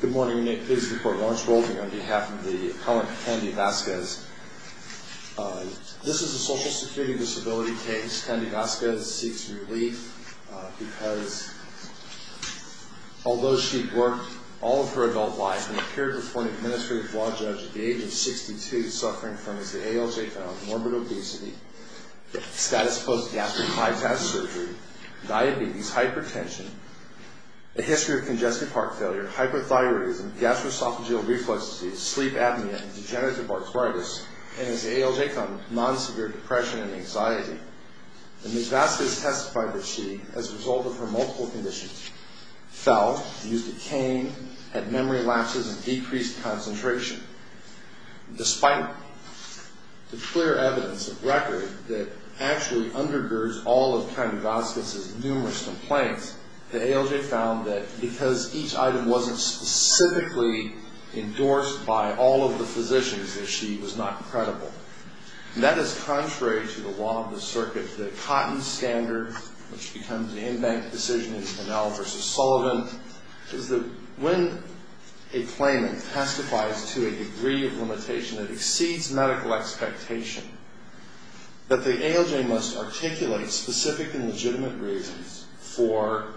Good morning, this is the court Lawrence Golding on behalf of the appellant Kendy Vasquez. This is a social security disability case. Kendy Vasquez seeks relief because although she worked all of her adult life and appeared before an administrative law judge at the age of 62 suffering from morbid obesity, status post gastric bypass surgery, diabetes, hypertension, a history of congestive heart failure, hyperthyroidism, gastroesophageal reflux disease, sleep apnea, degenerative arthritis, and is ailing from non-severe depression and anxiety. Ms. Vasquez testified that she, as a result of her multiple conditions, fell, used a cane, had memory lapses, and decreased concentration. Despite the clear evidence of record that actually undergirds all of Kendy Vasquez's numerous complaints, the ALJ found that because each item wasn't specifically endorsed by all of the physicians, that she was not credible. And that is contrary to the law of the circuit. The Cotton Standard, which becomes an in-bank decision in Pinnell v. Sullivan, is that when a claimant testifies to a degree of limitation that exceeds medical expectation, that the ALJ must articulate specific and legitimate reasons for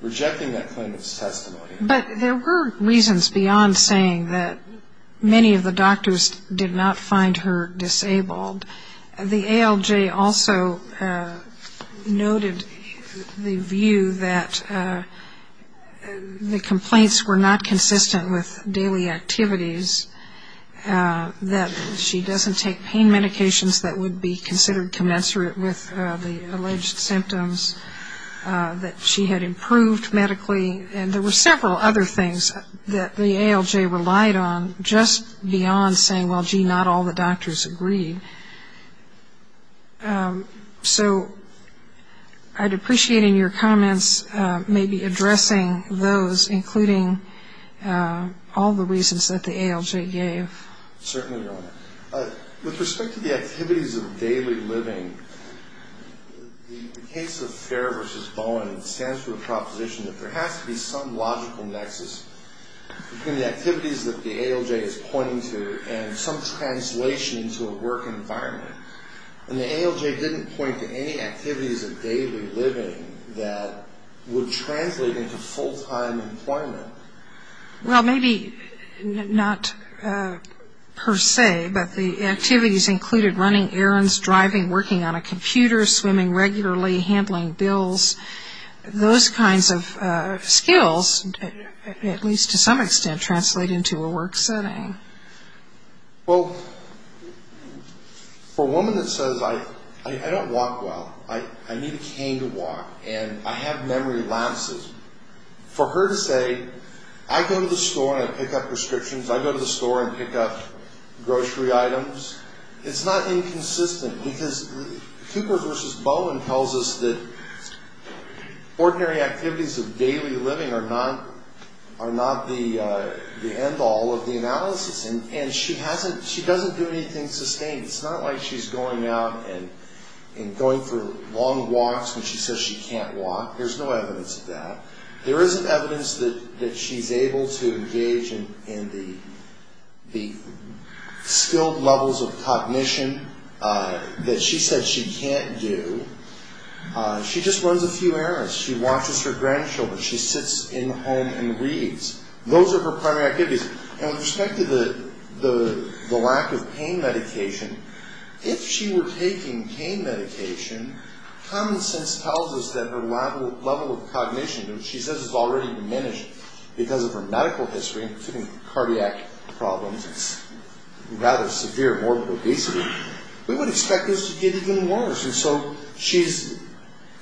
rejecting that claimant's testimony. But there were reasons beyond saying that many of the doctors did not find her disabled. The ALJ also noted the view that the complaints were not consistent with daily activities, that she doesn't take pain medications that would be considered commensurate with the alleged symptoms, that she had improved medically, and there were several other things that the ALJ relied on, just beyond saying, well, gee, not all the doctors agreed. So I'd appreciate in your comments maybe addressing those, including all the reasons that the ALJ gave. Certainly, Your Honor. With respect to the activities of daily living, the case of Fair v. Bowen stands for a proposition that there has to be some logical nexus between the activities that the ALJ is pointing to and some translation into a work environment. And the ALJ didn't point to any activities of daily living that would translate into full-time employment. Well, maybe not per se, but the activities included running errands, driving, working on a computer, swimming regularly, handling bills. Those kinds of skills, at least to some extent, translate into a work setting. Well, for a woman that says, I don't walk well, I need a cane to walk, and I have memory lapses, for her to say, I go to the store and I pick up prescriptions, I go to the store and pick up grocery items, it's not inconsistent, because Cooper v. Bowen tells us that ordinary activities of daily living are not the end-all of the analysis. And she doesn't do anything sustained. It's not like she's going out and going for long walks when she says she can't walk. There's no evidence of that. There is evidence that she's able to engage in the skilled levels of cognition that she said she can't do. She just runs a few errands. She watches her grandchildren. She sits in the home and reads. Those are her primary activities. And with respect to the lack of pain medication, if she were taking pain medication, common sense tells us that her level of cognition, which she says has already diminished because of her medical history, including cardiac problems, rather severe morbid obesity, we would expect this to get even worse. And so she's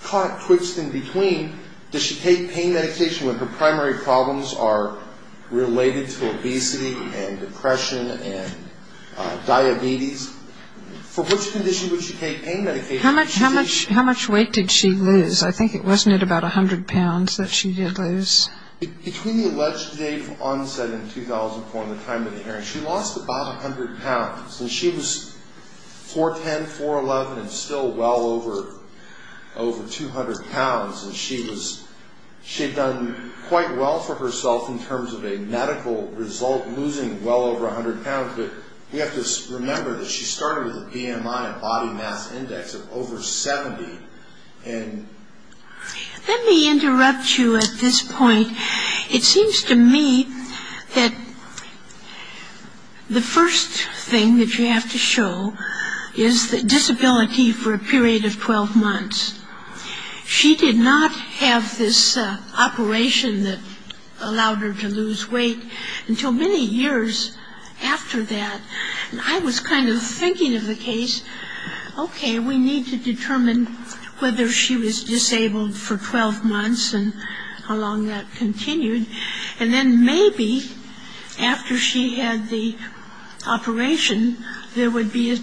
caught, twitched in between. Does she take pain medication when her primary problems are related to obesity and depression and diabetes? For which condition would she take pain medication? How much weight did she lose? I think it wasn't at about 100 pounds that she did lose. Between the alleged date of onset in 2004 and the time of the hearing, she lost about 100 pounds. And she was 4'10", 4'11", and still well over 200 pounds. And she had done quite well for herself in terms of a medical result, losing well over 100 pounds. But we have to remember that she started with a BMI, a body mass index, of over 70. Let me interrupt you at this point. It seems to me that the first thing that you have to show is the disability for a period of 12 months. She did not have this operation that allowed her to lose weight until many years after that. And I was kind of thinking of the case, okay, we need to determine whether she was disabled for 12 months and how long that continued, and then maybe after she had the operation, there would be a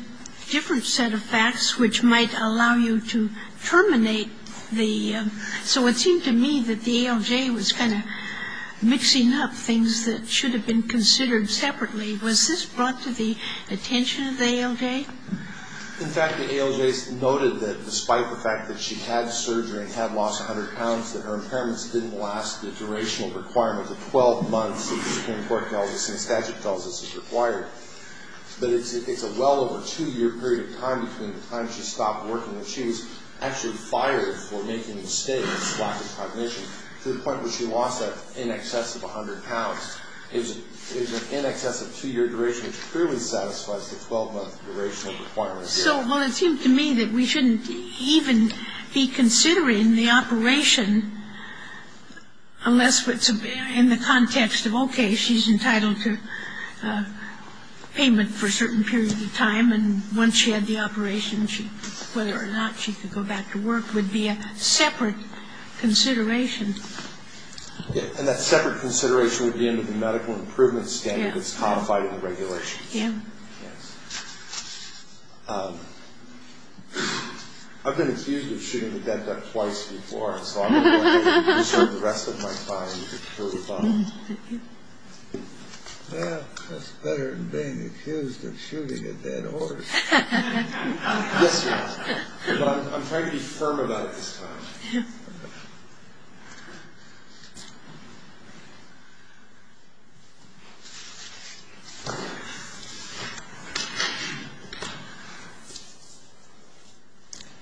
different set of facts which might allow you to terminate the ‑‑ so it seemed to me that the ALJ was kind of mixing up things that should have been considered separately. Was this brought to the attention of the ALJ? In fact, the ALJ noted that despite the fact that she had surgery and had lost 100 pounds, that her impairments didn't last the durational requirement of 12 months that the Supreme Court tells us and the statute tells us is required. But it's a well over two‑year period of time between the time she stopped working and she was actually fired for making mistakes, lack of cognition, to the point where she lost that in excess of 100 pounds. It was in excess of two‑year duration, which clearly satisfies the 12‑month durational requirement. So, well, it seemed to me that we shouldn't even be considering the operation unless it's in the context of, okay, she's entitled to payment for a certain period of time, and once she had the operation, whether or not she could go back to work would be a separate consideration. And that separate consideration would be under the medical improvement standard that's codified in the regulations. Yeah. Yes. I've been accused of shooting the dead duck twice before, so I'm going to have to serve the rest of my time to prove them. Well, that's better than being accused of shooting a dead horse. Yes, sir. But I'm trying to be firm about it this time. Yeah.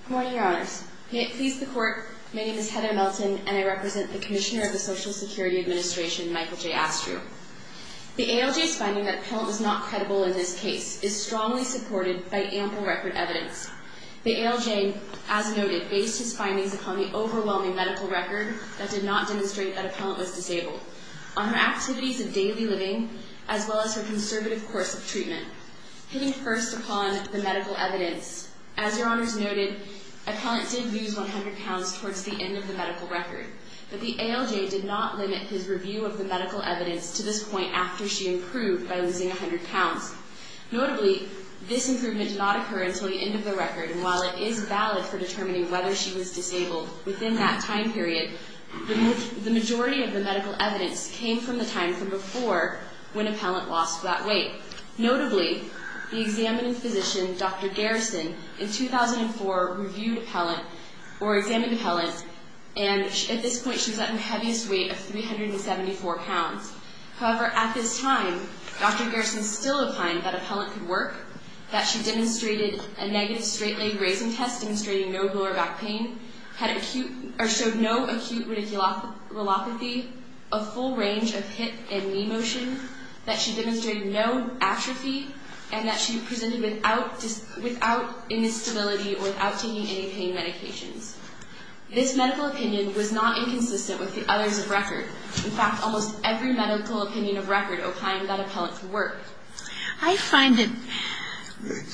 Good morning, Your Honors. May it please the Court, my name is Hedda Melton, and I represent the Commissioner of the Social Security Administration, Michael J. Astrew. The ALJ's finding that a penalty is not credible in this case is strongly supported by ample record evidence. The ALJ, as noted, based his findings upon the overwhelming medical record that did not demonstrate that a penalty was disabled, on her activities of daily living, as well as her conservative course of treatment. Hitting first upon the medical evidence, as Your Honors noted, a penalty did lose 100 pounds towards the end of the medical record. But the ALJ did not limit his review of the medical evidence to this point after she improved by losing 100 pounds. Notably, this improvement did not occur until the end of the record, and while it is valid for determining whether she was disabled within that time period, the majority of the medical evidence came from the time from before when a penalty lost that weight. Notably, the examining physician, Dr. Garrison, in 2004 reviewed a penalty, or examined a penalty, and at this point she was at her heaviest weight of 374 pounds. However, at this time, Dr. Garrison still opined that a pellet could work, that she demonstrated a negative straight leg raising test demonstrating no lower back pain, showed no acute radiculopathy, a full range of hip and knee motion, that she demonstrated no atrophy, and that she presented without instability or without taking any pain medications. This medical opinion was not inconsistent with the others of record. In fact, almost every medical opinion of record opined that a pellet could work. I find it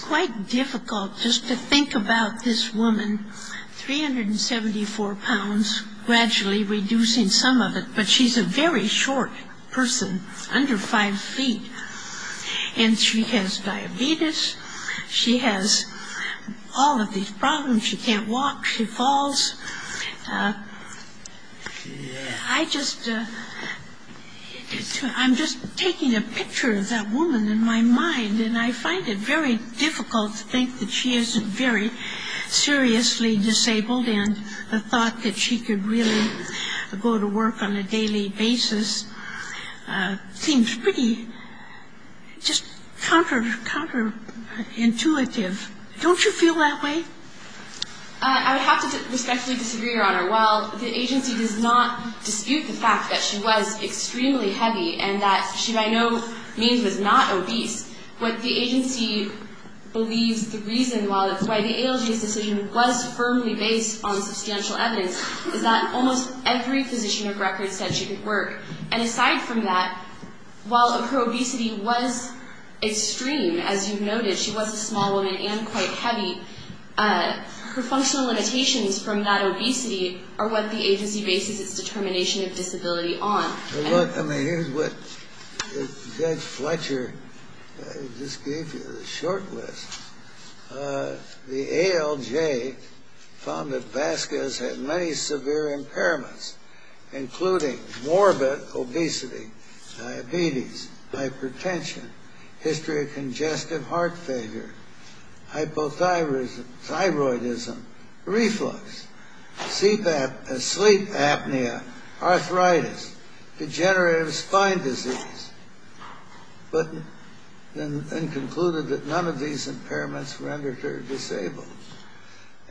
quite difficult just to think about this woman, 374 pounds, gradually reducing some of it, but she's a very short person, under 5 feet, and she has diabetes, she has all of these problems, she can't walk, she falls. I just, I'm just taking a picture of that woman in my mind, and I find it very difficult to think that she isn't very seriously disabled, and the thought that she could really go to work on a daily basis seems pretty just counterintuitive. Don't you feel that way? I would have to respectfully disagree, Your Honor. While the agency does not dispute the fact that she was extremely heavy, and that she by no means was not obese, what the agency believes the reason why the ALGS decision was firmly based on substantial evidence is that almost every physician of record said she could work. And aside from that, while her obesity was extreme, as you've noted, she was a small woman and quite heavy, her functional limitations from that obesity are what the agency bases its determination of disability on. Look, I mean, here's what Judge Fletcher just gave you, the short list. The ALJ found that Vasquez had many severe impairments, including morbid obesity, diabetes, hypertension, history of congestive heart failure, hypothyroidism, reflux, sleep apnea, arthritis, degenerative spine disease, and concluded that none of these impairments rendered her disabled.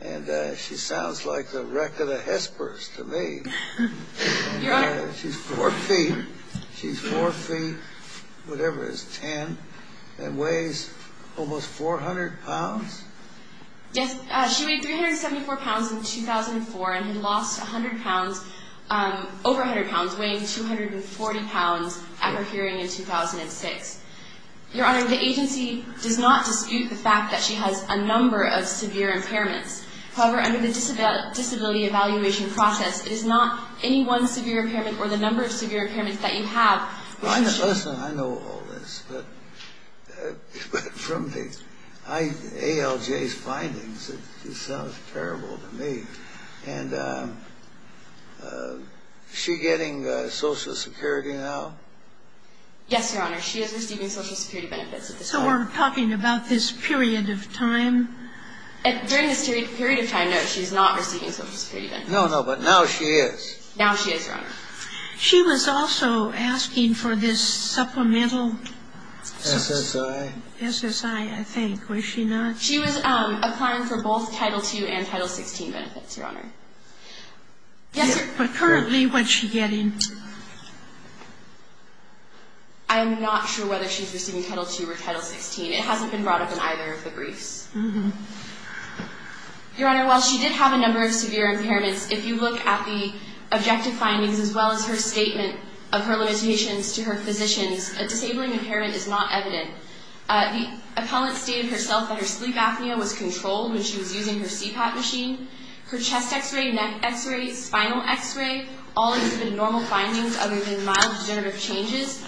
And she sounds like the wreck of the Hespers to me. Your Honor. She's 4 feet. She's 4 feet, whatever is, 10, and weighs almost 400 pounds? Yes. She weighed 374 pounds in 2004 and had lost 100 pounds, over 100 pounds, weighing 240 pounds at her hearing in 2006. Your Honor, the agency does not dispute the fact that she has a number of severe impairments. However, under the disability evaluation process, it is not any one severe impairment or the number of severe impairments that you have. Listen, I know all this, but from the ALJ's findings, it sounds terrible to me. And is she getting Social Security now? Yes, Your Honor. She is receiving Social Security benefits at this time. So we're talking about this period of time? During this period of time, no, she's not receiving Social Security benefits. No, no, but now she is. Now she is, Your Honor. She was also asking for this supplemental? SSI. SSI, I think. Was she not? She was applying for both Title II and Title XVI benefits, Your Honor. Yes, Your Honor. But currently, what's she getting? I'm not sure whether she's receiving Title II or Title XVI. It hasn't been brought up in either of the briefs. Your Honor, while she did have a number of severe impairments, if you look at the objective findings as well as her statement of her limitations to her physicians, a disabling impairment is not evident. The appellant stated herself that her sleep apnea was controlled when she was using her CPAP machine. Her chest x-ray, neck x-ray, spinal x-ray, all exhibited normal findings other than mild degenerative changes.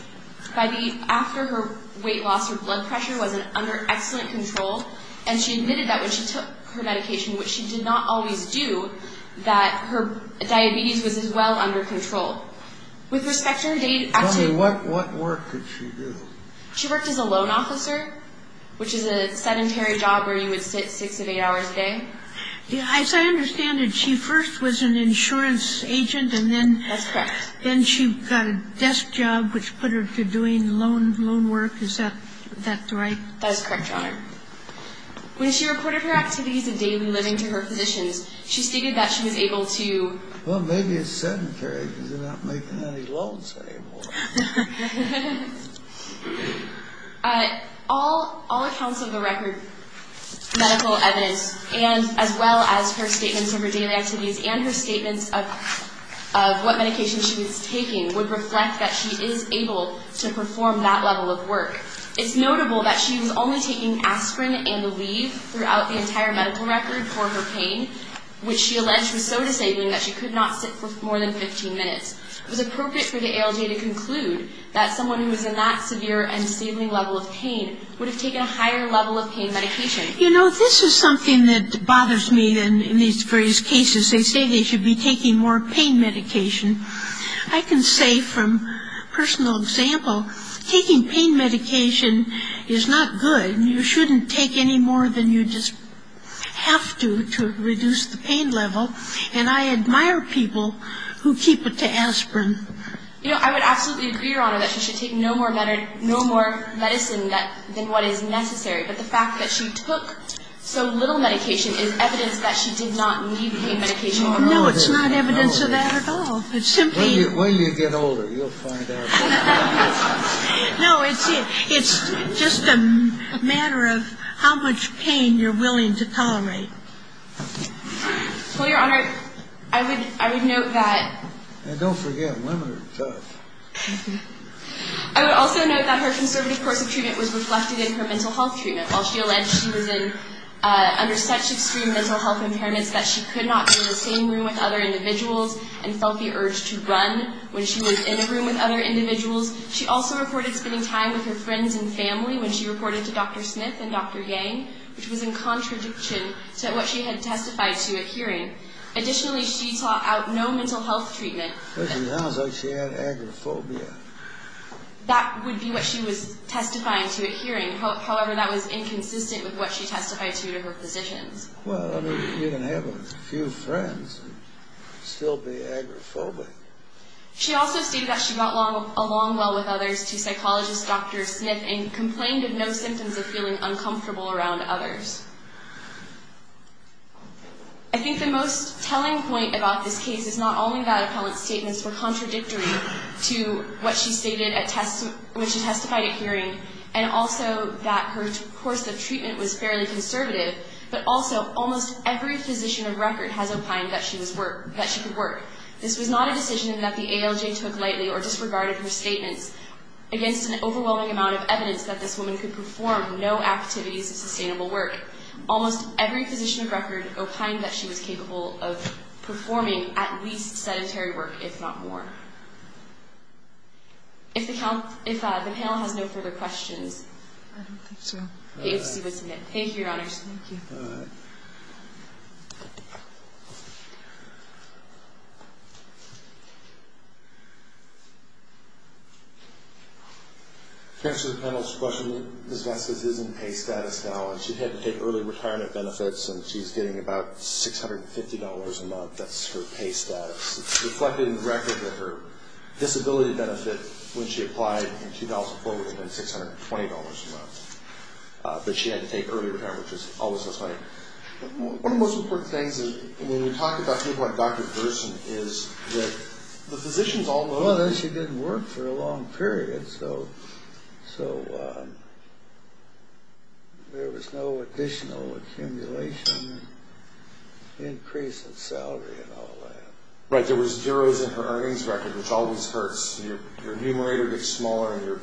After her weight loss, her blood pressure was under excellent control, and she admitted that when she took her medication, which she did not always do, that her diabetes was as well under control. With respect to her day to day activities, Tell me, what work did she do? She worked as a loan officer, which is a sedentary job where you would sit six to eight hours a day. As I understand it, she first was an insurance agent, and then she got a desk job, which put her to doing loan work. Is that right? That is correct, Your Honor. When she reported her activities of daily living to her physicians, she stated that she was able to Well, maybe it's sedentary because they're not making any loans anymore. All accounts of the record, medical evidence, as well as her statements of her daily activities and her statements of what medication she was taking would reflect that she is able to perform that level of work. It's notable that she was only taking aspirin and Aleve throughout the entire medical record for her pain, which she alleged was so disabling that she could not sit for more than 15 minutes. It was appropriate for the ALJ to conclude that someone who was in that severe and disabling level of pain would have taken a higher level of pain medication. You know, this is something that bothers me in these various cases. They say they should be taking more pain medication. I can say from personal example, taking pain medication is not good. You shouldn't take any more than you just have to to reduce the pain level, and I admire people who keep it to aspirin. You know, I would absolutely agree, Your Honor, that she should take no more medicine than what is necessary, but the fact that she took so little medication is evidence that she did not need pain medication at all. No, it's not evidence of that at all. When you get older, you'll find out. No, it's just a matter of how much pain you're willing to tolerate. Well, Your Honor, I would note that... And don't forget, women are tough. I would also note that her conservative course of treatment was reflected in her mental health treatment. While she alleged she was under such extreme mental health impairments that she could not be in the same room with other individuals and felt the urge to run when she was in a room with other individuals, she also reported spending time with her friends and family when she reported to Dr. Smith and Dr. Yang, which was in contradiction to what she had testified to at hearing. Additionally, she sought out no mental health treatment. She sounds like she had agoraphobia. That would be what she was testifying to at hearing. However, that was inconsistent with what she testified to to her physicians. Well, I mean, you can have a few friends and still be agoraphobic. She also stated that she got along well with others to psychologist Dr. Smith and complained of no symptoms of feeling uncomfortable around others. I think the most telling point about this case is not only that Appellant's statements were contradictory to what she testified at hearing and also that her course of treatment was fairly conservative, but also almost every physician of record has opined that she could work. This was not a decision that the ALJ took lightly or disregarded her statements against an overwhelming amount of evidence that this woman could perform no activities of sustainable work. Almost every physician of record opined that she was capable of performing at least sedentary work, if not more. If the panel has no further questions, I don't think so. Thank you, Your Honors. Thank you. To answer the panel's question, Ms. Vasquez is in pay status now and she had to take early retirement benefits and she's getting about $650 a month. That's her pay status. It's reflected in the record that her disability benefit, when she applied in 2004, would have been $620 a month. But she had to take early retirement, which is always so funny. One of the most important things when we talk about people like Dr. Gerson So there was no additional accumulation, increase in salary and all that. Right, there was zeros in her earnings record, which always hurts. Your numerator gets smaller and your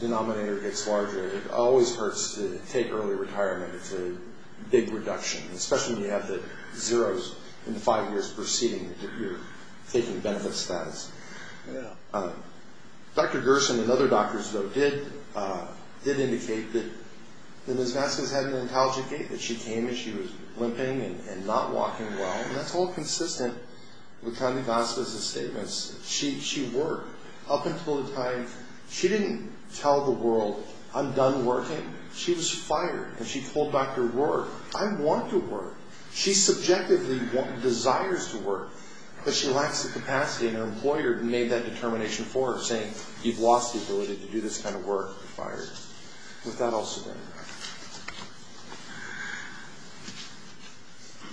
denominator gets larger. It always hurts to take early retirement. It's a big reduction, especially when you have the zeros in the five years preceding your taking benefit status. Yeah. Dr. Gerson and other doctors, though, did indicate that Ms. Vasquez had an intelligent gait, that she came as she was limping and not walking well. And that's all consistent with kindly gospels and statements. She worked. Up until the time, she didn't tell the world, I'm done working. She was fired. And she told Dr. Work, I want to work. She subjectively desires to work, but she lacks the capacity. And her employer made that determination for her, saying, you've lost the ability to do this kind of work. You're fired. With that, I'll stop.